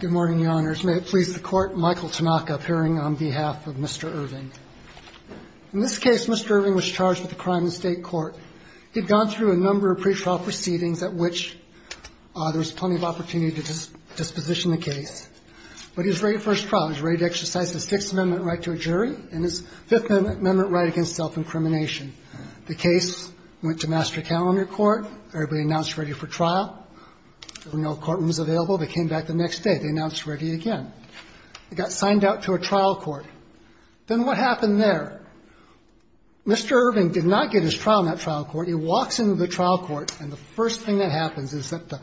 Good morning, Your Honors. May it please the Court, Michael Tanaka appearing on behalf of Mr. Irving. In this case, Mr. Irving was charged with a crime in the State Court. He'd gone through a number of pretrial proceedings at which there was plenty of opportunity to disposition the case. But he was ready for his trial. He was ready to exercise his Sixth Amendment right to a jury and his Fifth Amendment right against self-incrimination. The case went to Master Calendar Court. Everybody announced ready for trial. There were no courtrooms available. They came back the next day. They announced ready again. It got signed out to a trial court. Then what happened there? Mr. Irving did not get his trial in that trial court. He walks into the trial court, and the first thing that happens is that the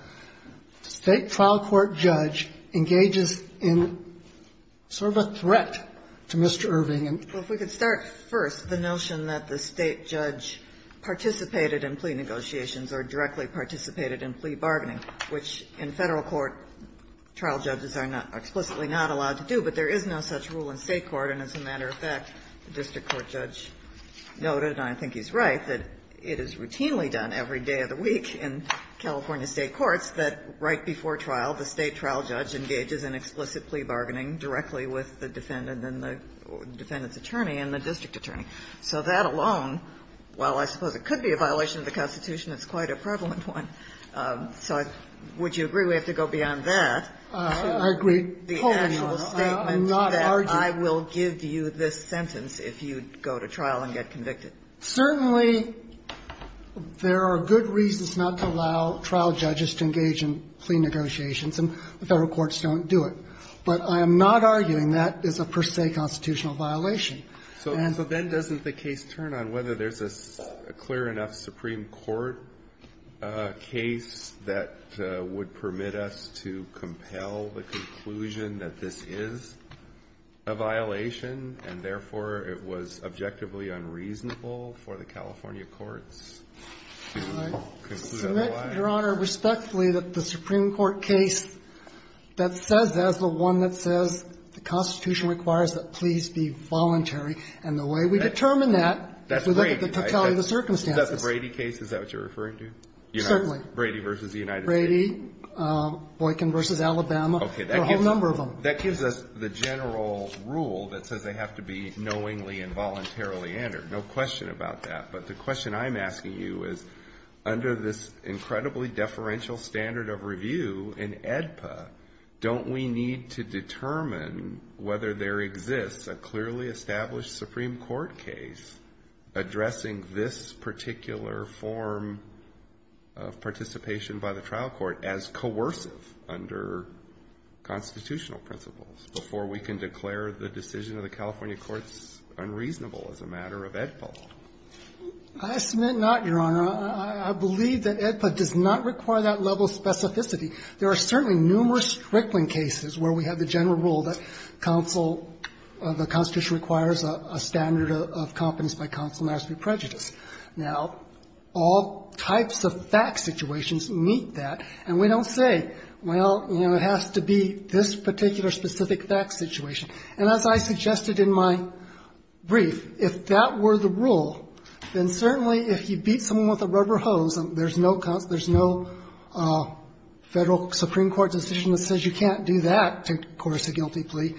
State trial court judge engages in sort of a threat to Mr. Irving. Sotomayor Well, if we could start first, the notion that the State judge participated in plea negotiations or directly participated in plea bargaining, which in Federal court, trial judges are not explicitly not allowed to do. But there is no such rule in State court, and as a matter of fact, the district court judge noted, and I think he's right, that it is routinely done every day of the week in California State courts that right before trial, the State trial judge engages in explicit plea bargaining directly with the defendant and the defendant's attorney and the district attorney. So that alone, while I suppose it could be a violation of the Constitution, it's quite a prevalent one. So would you agree we have to go beyond that? Katyal I agree wholly. Sotomayor The actual statement that I will give you this sentence if you go to trial and get convicted. Katyal Certainly, there are good reasons not to allow trial judges to engage in plea negotiations, and the Federal courts don't do it. But I am not arguing that is a per se constitutional violation. And so then doesn't the case turn on whether there's a clear enough Supreme Court case that would permit us to compel the conclusion that this is a violation, and therefore, it was objectively unreasonable for the California courts to consider that a violation? Katyal I submit, Your Honor, respectfully that the Supreme Court case that says that's the one that says the Constitution requires that pleas be voluntary, and the way we determine that is to look at the totality of the circumstances. Alito Is that the Brady case? Is that what you're referring to? Katyal Certainly. Alito Brady v. United States. Katyal Brady, Boykin v. Alabama. Alito Okay. Katyal There are a whole number of them. Alito That gives us the general rule that says they have to be knowingly and voluntarily answered. No question about that. But the question I'm asking you is under this incredibly deferential standard of review in AEDPA, don't we need to determine whether there exists a clearly established Supreme Court case addressing this particular form of participation by the trial court as coercive under constitutional principles before we can declare the decision of the California Supreme Court's unreasonable as a matter of AEDPA? Katyal I submit not, Your Honor. I believe that AEDPA does not require that level of specificity. There are certainly numerous Strickland cases where we have the general rule that counsel of the Constitution requires a standard of competence by counsel not to be prejudiced. Now, all types of fact situations meet that, and we don't say, well, you know, it has to be this particular specific fact situation. And as I suggested in my brief, if that were the rule, then certainly if you beat someone with a rubber hose and there's no federal Supreme Court decision that says you can't do that to coerce a guilty plea,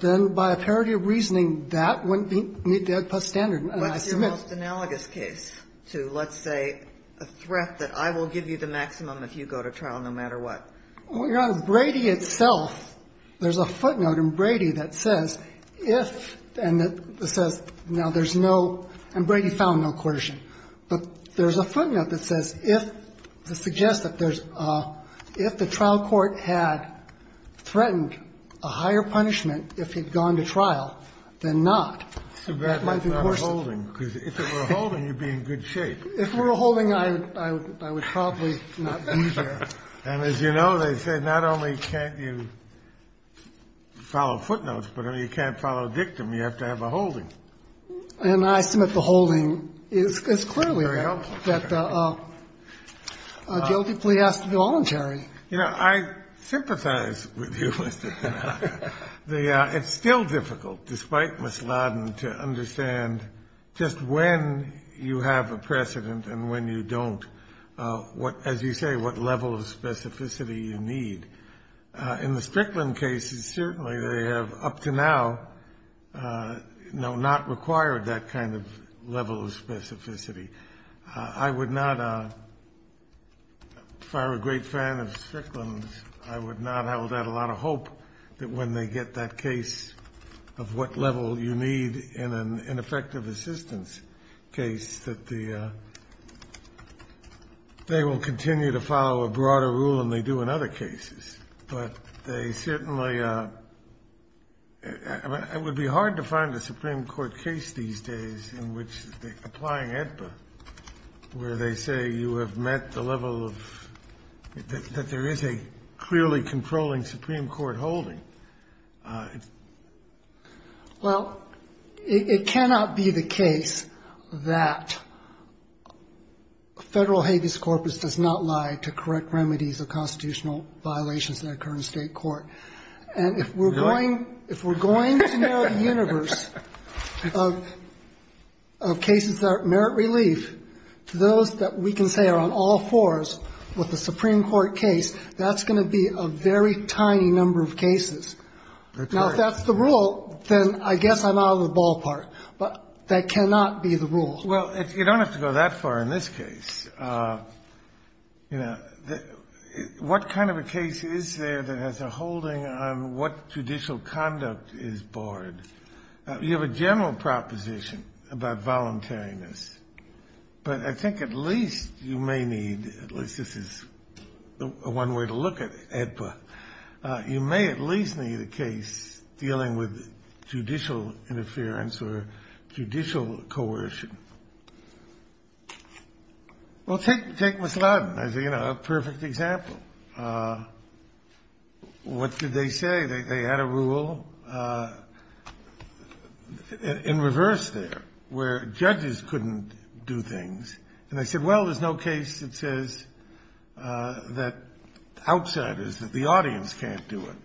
then by a parody of reasoning, that wouldn't meet the AEDPA standard. And I submit that. Ginsburg What's your most analogous case to, let's say, a threat that I will give you the maximum if you go to trial no matter what? Katyal Well, Your Honor, Brady itself, there's a footnote in Brady that says if, and it says now there's no, and Brady found no coercion, but there's a footnote that says if, to suggest that there's a, if the trial court had threatened a higher punishment if he'd gone to trial, then not, that might be coercive. Kennedy So that might not have been a holding, because if it were a holding, you'd be in good shape. Katyal If it were a holding, I would probably not be there. Kennedy And as you know, they say not only can't you follow footnotes, but you can't follow dictum. You have to have a holding. Katyal And I submit the holding is clearly that a guilty plea has to be voluntary. Kennedy You know, I sympathize with you, Mr. Katyal. It's still difficult, despite Ms. Laden, to understand just when you have a precedent and when you don't, what, as you say, what level of specificity you need. In the Strickland cases, certainly they have up to now, no, not required that kind of level of specificity. I would not, if I were a great fan of Strickland's, I would not have held out a lot of hope that when they get that case of what level you need in an ineffective assistance case, that they will continue to follow a broader rule than they do in other cases. But they certainly, I mean, it would be hard to find a Supreme Court case these days in which, applying AEDPA, where they say you have met the level of, that there is a clearly controlling Supreme Court holding. Katyal Well, it cannot be the case that Federal Habeas Corpus does not lie to correct remedies of constitutional violations that occur in State court. And if we're going to narrow the universe of cases that merit relief to those that we can say are on all fours with a Supreme Court case, that's going to be a very tiny number of cases. Now, if that's the rule, then I guess I'm out of the ballpark. But that cannot be the rule. Kennedy Well, you don't have to go that far in this case. You know, what kind of a case is there that has a holding on what judicial conduct is board? You have a general proposition about voluntariness. But I think at least you may need, at least this is one way to look at AEDPA, you may at least need a case dealing with judicial interference or judicial coercion. Well, take Ms. Ladin as a perfect example. What did they say? They had a rule in reverse there, where judges couldn't do things. And they said, well, there's no case that says that outsiders, that the audience can't do it,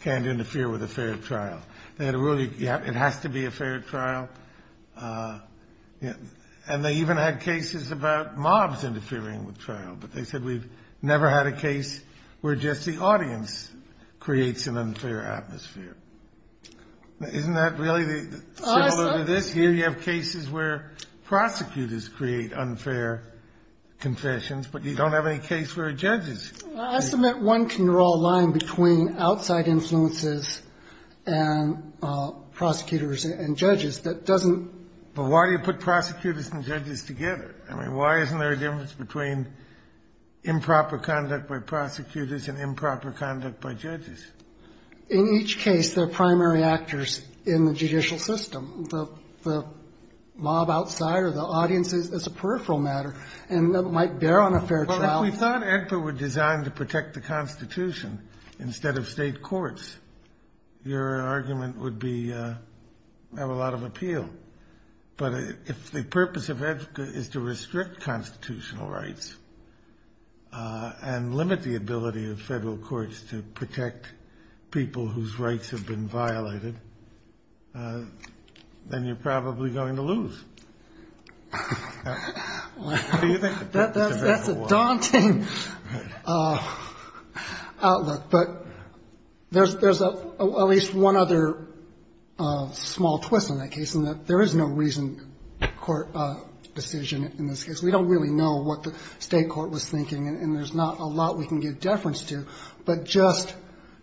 can't interfere with a fair trial. They had a rule, yeah, it has to be a fair trial. And they even had cases about mobs interfering with trial. But they said we've never had a case where just the audience creates an unfair atmosphere. Isn't that really similar to this? Here you have cases where prosecutors create unfair confessions, but you don't have any case where judges do. I submit one can draw a line between outside influences and prosecutors and judges that doesn't. But why do you put prosecutors and judges together? I mean, why isn't there a difference between improper conduct by prosecutors and improper conduct by judges? In each case, there are primary actors in the judicial system. The mob outside or the audience is a peripheral matter and might bear on a fair trial. Well, if we thought EDPA were designed to protect the Constitution instead of state courts, your argument would have a lot of appeal. But if the purpose of EDPA is to restrict constitutional rights and limit the ability of federal courts to protect people whose rights have been violated, then you're probably going to lose. That's a daunting outlook. But there's at least one other small twist on that case in that there is no reason court decision in this case. We don't really know what the state court was thinking, and there's not a lot we can give deference to. But just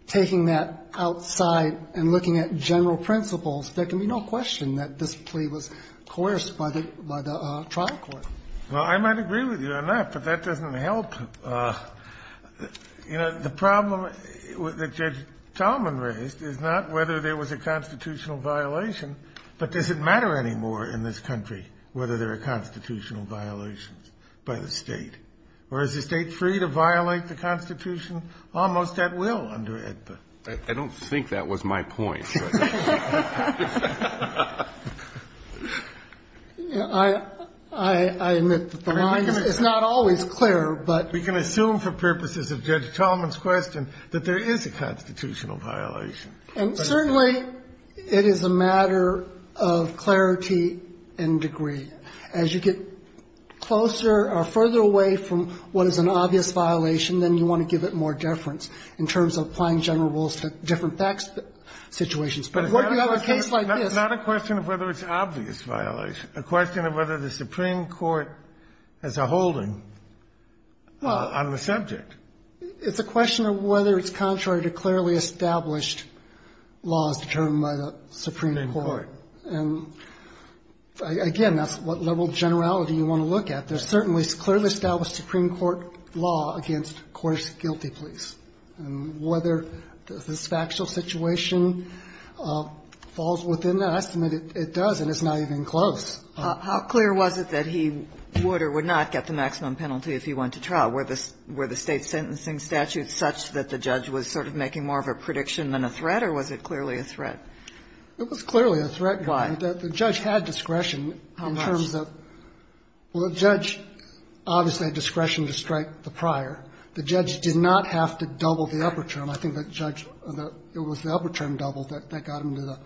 taking that outside and looking at general principles, there can be no question that this plea was coerced by the trial court. Well, I might agree with you on that, but that doesn't help. You know, the problem that Judge Talman raised is not whether there was a constitutional violation, but does it matter anymore in this country whether there are constitutional violations by the State? Or is the State free to violate the Constitution almost at will under EDPA? I don't think that was my point. I admit that the line is not always clear. But we can assume for purposes of Judge Talman's question that there is a constitutional violation. And certainly it is a matter of clarity and degree. And as you get closer or further away from what is an obvious violation, then you want to give it more deference in terms of applying general rules to different facts situations. But if you have a case like this… It's not a question of whether it's an obvious violation. It's a question of whether the Supreme Court has a holding on the subject. It's a question of whether it's contrary to clearly established laws determined by the Supreme Court. Supreme Court. And, again, that's what level of generality you want to look at. There's certainly clearly established Supreme Court law against coarse guilty pleas. And whether this factual situation falls within that estimate, it does, and it's not even close. How clear was it that he would or would not get the maximum penalty if he went to trial? Were the State's sentencing statutes such that the judge was sort of making more It was clearly a threat. Why? The judge had discretion in terms of… How much? Well, the judge obviously had discretion to strike the prior. The judge did not have to double the upper term. I think the judge, it was the upper term double that got him to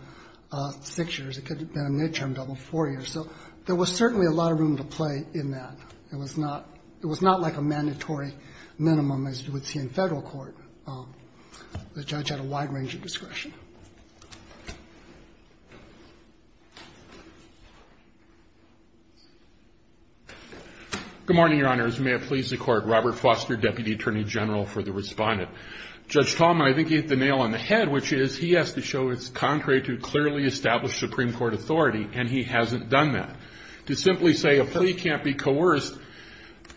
the 6 years. It could have been a midterm double, 4 years. So there was certainly a lot of room to play in that. It was not like a mandatory minimum as you would see in Federal court. The judge had a wide range of discretion. Good morning, Your Honors. May it please the Court. Robert Foster, Deputy Attorney General for the Respondent. Judge Tallman, I think he hit the nail on the head, which is he has to show it's contrary to clearly established Supreme Court authority, and he hasn't done that. To simply say a plea can't be coerced,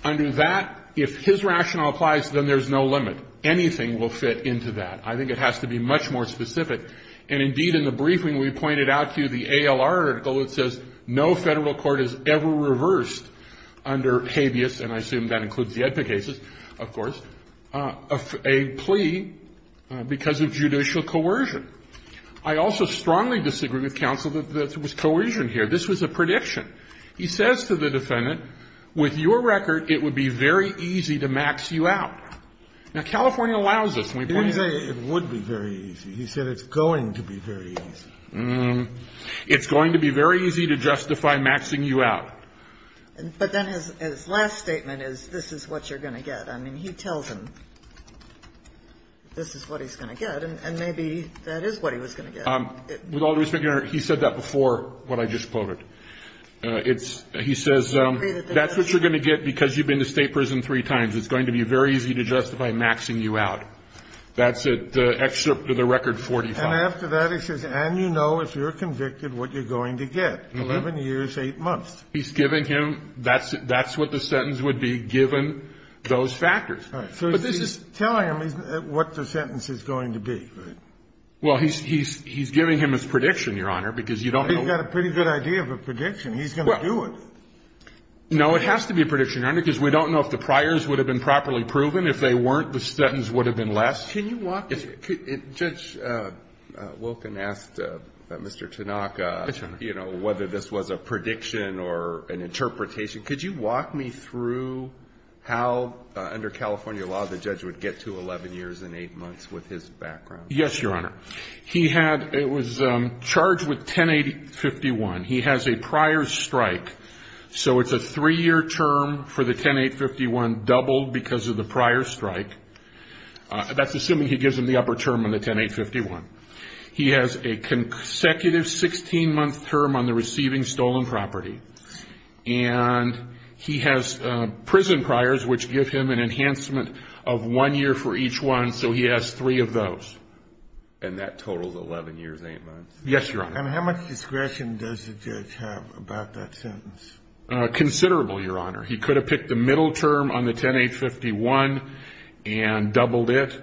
under that, if his rationale applies, then there's no limit. Anything will fit into that. I think it has to be much more specific. And, indeed, in the briefing we pointed out to you, the ALR article, it says no Federal court has ever reversed under habeas, and I assume that includes the EDPA cases, of course, a plea because of judicial coercion. I also strongly disagree with counsel that there was coercion here. This was a prediction. He says to the defendant, with your record, it would be very easy to max you out. Now, California allows this. It would be very easy. He said it's going to be very easy. It's going to be very easy to justify maxing you out. But then his last statement is, this is what you're going to get. I mean, he tells him this is what he's going to get, and maybe that is what he was going to get. With all due respect, Your Honor, he said that before what I just quoted. It's he says that's what you're going to get because you've been to State prison three times. It's going to be very easy to justify maxing you out. That's it. The excerpt of the record 45. And after that, he says, and you know if you're convicted what you're going to get, 11 years, 8 months. He's giving him that's what the sentence would be given those factors. All right. But this is. Tell him what the sentence is going to be. Well, he's giving him his prediction, Your Honor, because you don't know. He's got a pretty good idea of a prediction. He's going to do it. No, it has to be a prediction, Your Honor, because we don't know if the priors would have been properly proven. If they weren't, the sentence would have been less. Can you walk. Judge Wilken asked Mr. Tanaka. Yes, Your Honor. You know, whether this was a prediction or an interpretation. Could you walk me through how under California law the judge would get to 11 years and 8 months with his background? Yes, Your Honor. He had. It was charged with 10851. He has a prior strike. So it's a three-year term for the 10851 doubled because of the prior strike. That's assuming he gives him the upper term on the 10851. He has a consecutive 16-month term on the receiving stolen property. And he has prison priors, which give him an enhancement of one year for each one. So he has three of those. And that totals 11 years and 8 months. Yes, Your Honor. And how much discretion does the judge have about that sentence? Considerable, Your Honor. He could have picked the middle term on the 10851 and doubled it.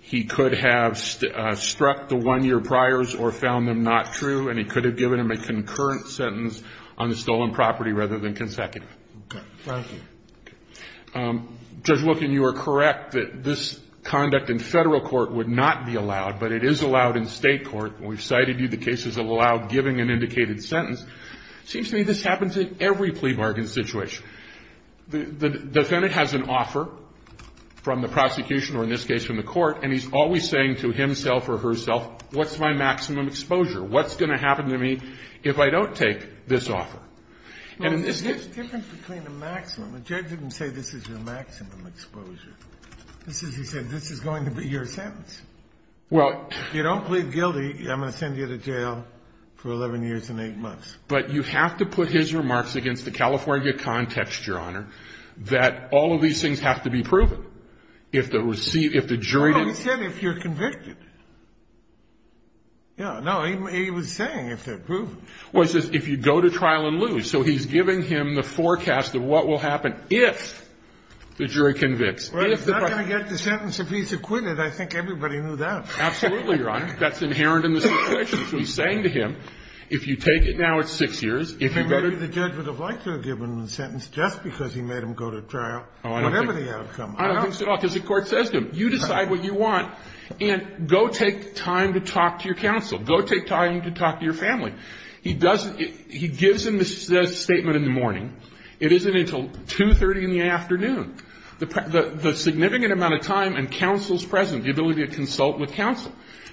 He could have struck the one-year priors or found them not true. And he could have given him a concurrent sentence on the stolen property rather than consecutive. Okay. Thank you. Judge Wilken, you are correct that this conduct in Federal court would not be allowed, but it is allowed in State court. And we've cited you, the case is allowed giving an indicated sentence. It seems to me this happens in every plea bargain situation. The defendant has an offer from the prosecution or in this case from the court, and he's always saying to himself or herself, what's my maximum exposure? What's going to happen to me if I don't take this offer? Well, there's a difference between the maximum. The judge didn't say this is your maximum exposure. This is, he said, this is going to be your sentence. Well. If you don't plead guilty, I'm going to send you to jail for 11 years and 8 months. But you have to put his remarks against the California context, Your Honor, that all of these things have to be proven. If the jury didn't. Well, he said if you're convicted. Yeah. No, he was saying if they're proven. Well, he says if you go to trial and lose. So he's giving him the forecast of what will happen if the jury convicts. Well, he's not going to get the sentence if he's acquitted. I think everybody knew that. Absolutely, Your Honor. That's inherent in the situation. So he's saying to him, if you take it now, it's 6 years. Maybe the judge would have liked to have given him the sentence just because he made him go to trial. Whatever the outcome. I don't think so at all, because the court says to him, you decide what you want, and go take time to talk to your counsel. Go take time to talk to your family. He doesn't, he gives him the statement in the morning. It isn't until 2.30 in the afternoon. The significant amount of time and counsel's presence, the ability to consult with counsel.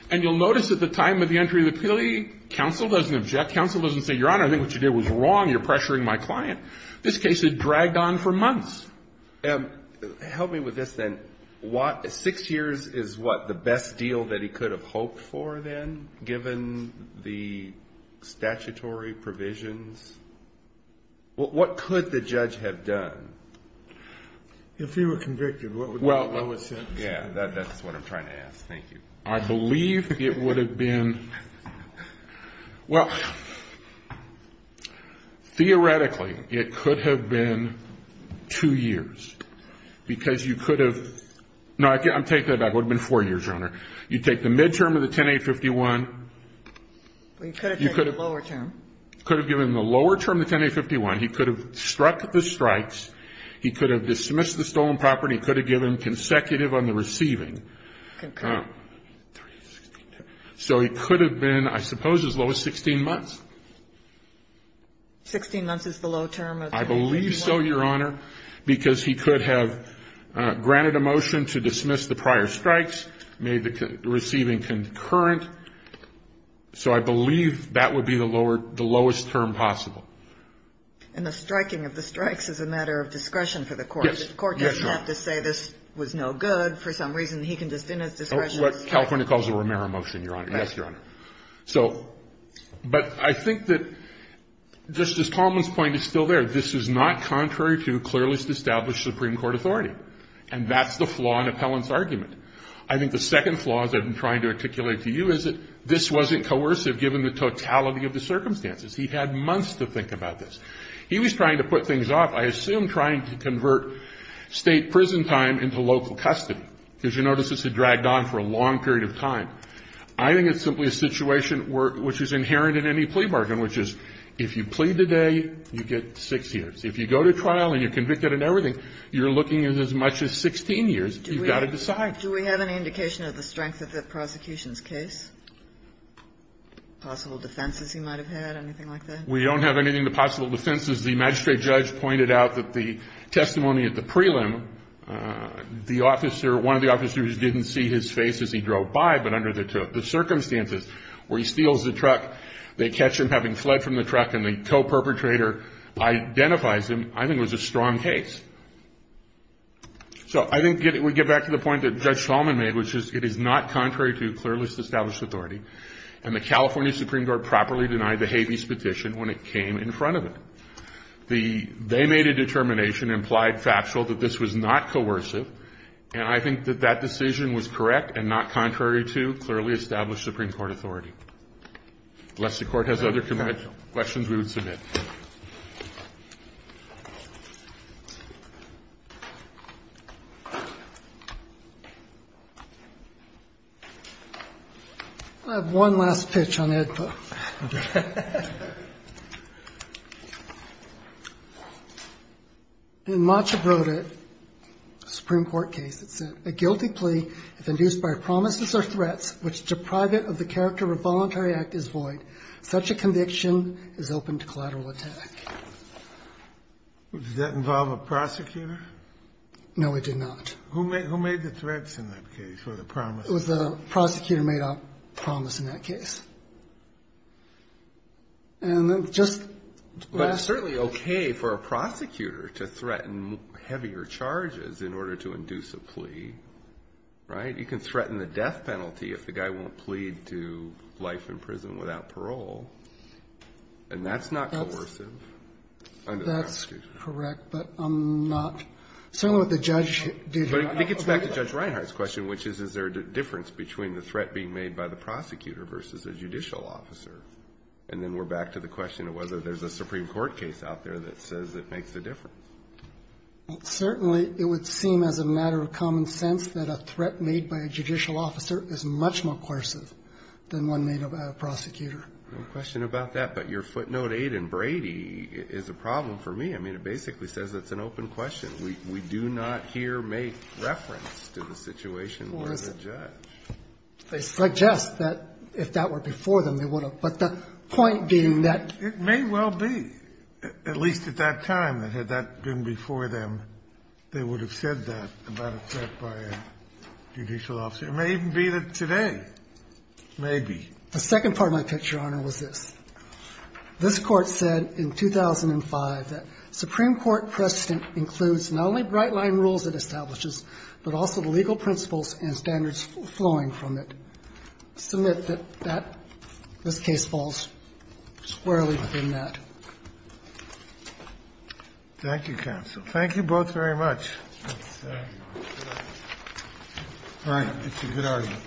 And you'll notice at the time of the entry of the plea, counsel doesn't object. Counsel doesn't say, Your Honor, I think what you did was wrong. You're pressuring my client. This case had dragged on for months. Help me with this then. What, 6 years is what, the best deal that he could have hoped for then, given the statutory provisions? What could the judge have done? If he were convicted, what would be the lowest sentence? Yeah, that's what I'm trying to ask. Thank you. I believe it would have been, well, theoretically, it could have been 2 years. Because you could have, no, I'm taking that back. It would have been 4 years, Your Honor. You take the midterm of the 10-8-51. You could have taken the lower term. You could have given him the lower term of the 10-8-51. He could have struck the strikes. He could have dismissed the stolen property. He could have given consecutive on the receiving. So he could have been, I suppose, as low as 16 months. 16 months is the low term of the 10-8-51? I believe so, Your Honor, because he could have granted a motion to dismiss the prior strikes, made the receiving concurrent. So I believe that would be the lowest term possible. And the striking of the strikes is a matter of discretion for the court. Yes. The court doesn't have to say this was no good. For some reason, he can just, in his discretion. That's what California calls a Romero motion, Your Honor. Yes, Your Honor. So, but I think that Justice Coleman's point is still there. This is not contrary to clearly established Supreme Court authority. And that's the flaw in Appellant's argument. I think the second flaw, as I've been trying to articulate to you, is that this wasn't coercive, given the totality of the circumstances. He had months to think about this. He was trying to put things off, I assume trying to convert state prison time into local custody. Because you notice this had dragged on for a long period of time. I think it's simply a situation which is inherent in any plea bargain, which is if you plead today, you get six years. If you go to trial and you're convicted and everything, you're looking at as much as 16 years. You've got to decide. Do we have any indication of the strength of the prosecution's case? Possible defenses he might have had, anything like that? We don't have anything to possible defenses. The magistrate judge pointed out that the testimony at the prelim, the officer, one of the officers didn't see his face as he drove by, but under the circumstances where he steals the truck, they catch him having fled from the truck, and the co-perpetrator identifies him, I think was a strong case. So I think we get back to the point that Judge Solomon made, which is it is not contrary to clearly established authority, and the California Supreme Court properly denied the Habeas Petition when it came in front of it. They made a determination, implied factual, that this was not coercive, and I think that that decision was correct and not contrary to clearly established Supreme Court authority. Unless the Court has other questions we would submit. I have one last pitch on AEDPA. Okay. And Macha wrote a Supreme Court case that said, a guilty plea if induced by promises or threats which deprive it of the character of voluntary act is void. Such a conviction is open to collateral attack. Does that involve a prosecutor? No, it did not. Who made the threats in that case, or the promises? It was the prosecutor made a promise in that case. And just last week. But it's certainly okay for a prosecutor to threaten heavier charges in order to induce a plea, right? You can threaten the death penalty if the guy won't plead to life in prison without parole, and that's not coercive. That's correct, but I'm not. Certainly what the judge did here. But it gets back to Judge Reinhardt's question, which is is there a difference between the threat being made by the prosecutor versus a judicial officer? And then we're back to the question of whether there's a Supreme Court case out there that says it makes a difference. Certainly it would seem as a matter of common sense that a threat made by a judicial officer is much more coercive than one made by a prosecutor. No question about that. But your footnote 8 in Brady is a problem for me. I mean, it basically says it's an open question. We do not here make reference to the situation where the judge. They suggest that if that were before them, they would have. But the point being that ---- It may well be, at least at that time, that had that been before them, they would have said that about a threat by a judicial officer. It may even be that today, maybe. The second part of my picture, Your Honor, was this. This Court said in 2005 that Supreme Court precedent includes not only bright-line rules it establishes, but also the legal principles and standards flowing from it. I submit that that ---- this case falls squarely within that. Thank you, counsel. Thank you both very much. All right. It's a good argument.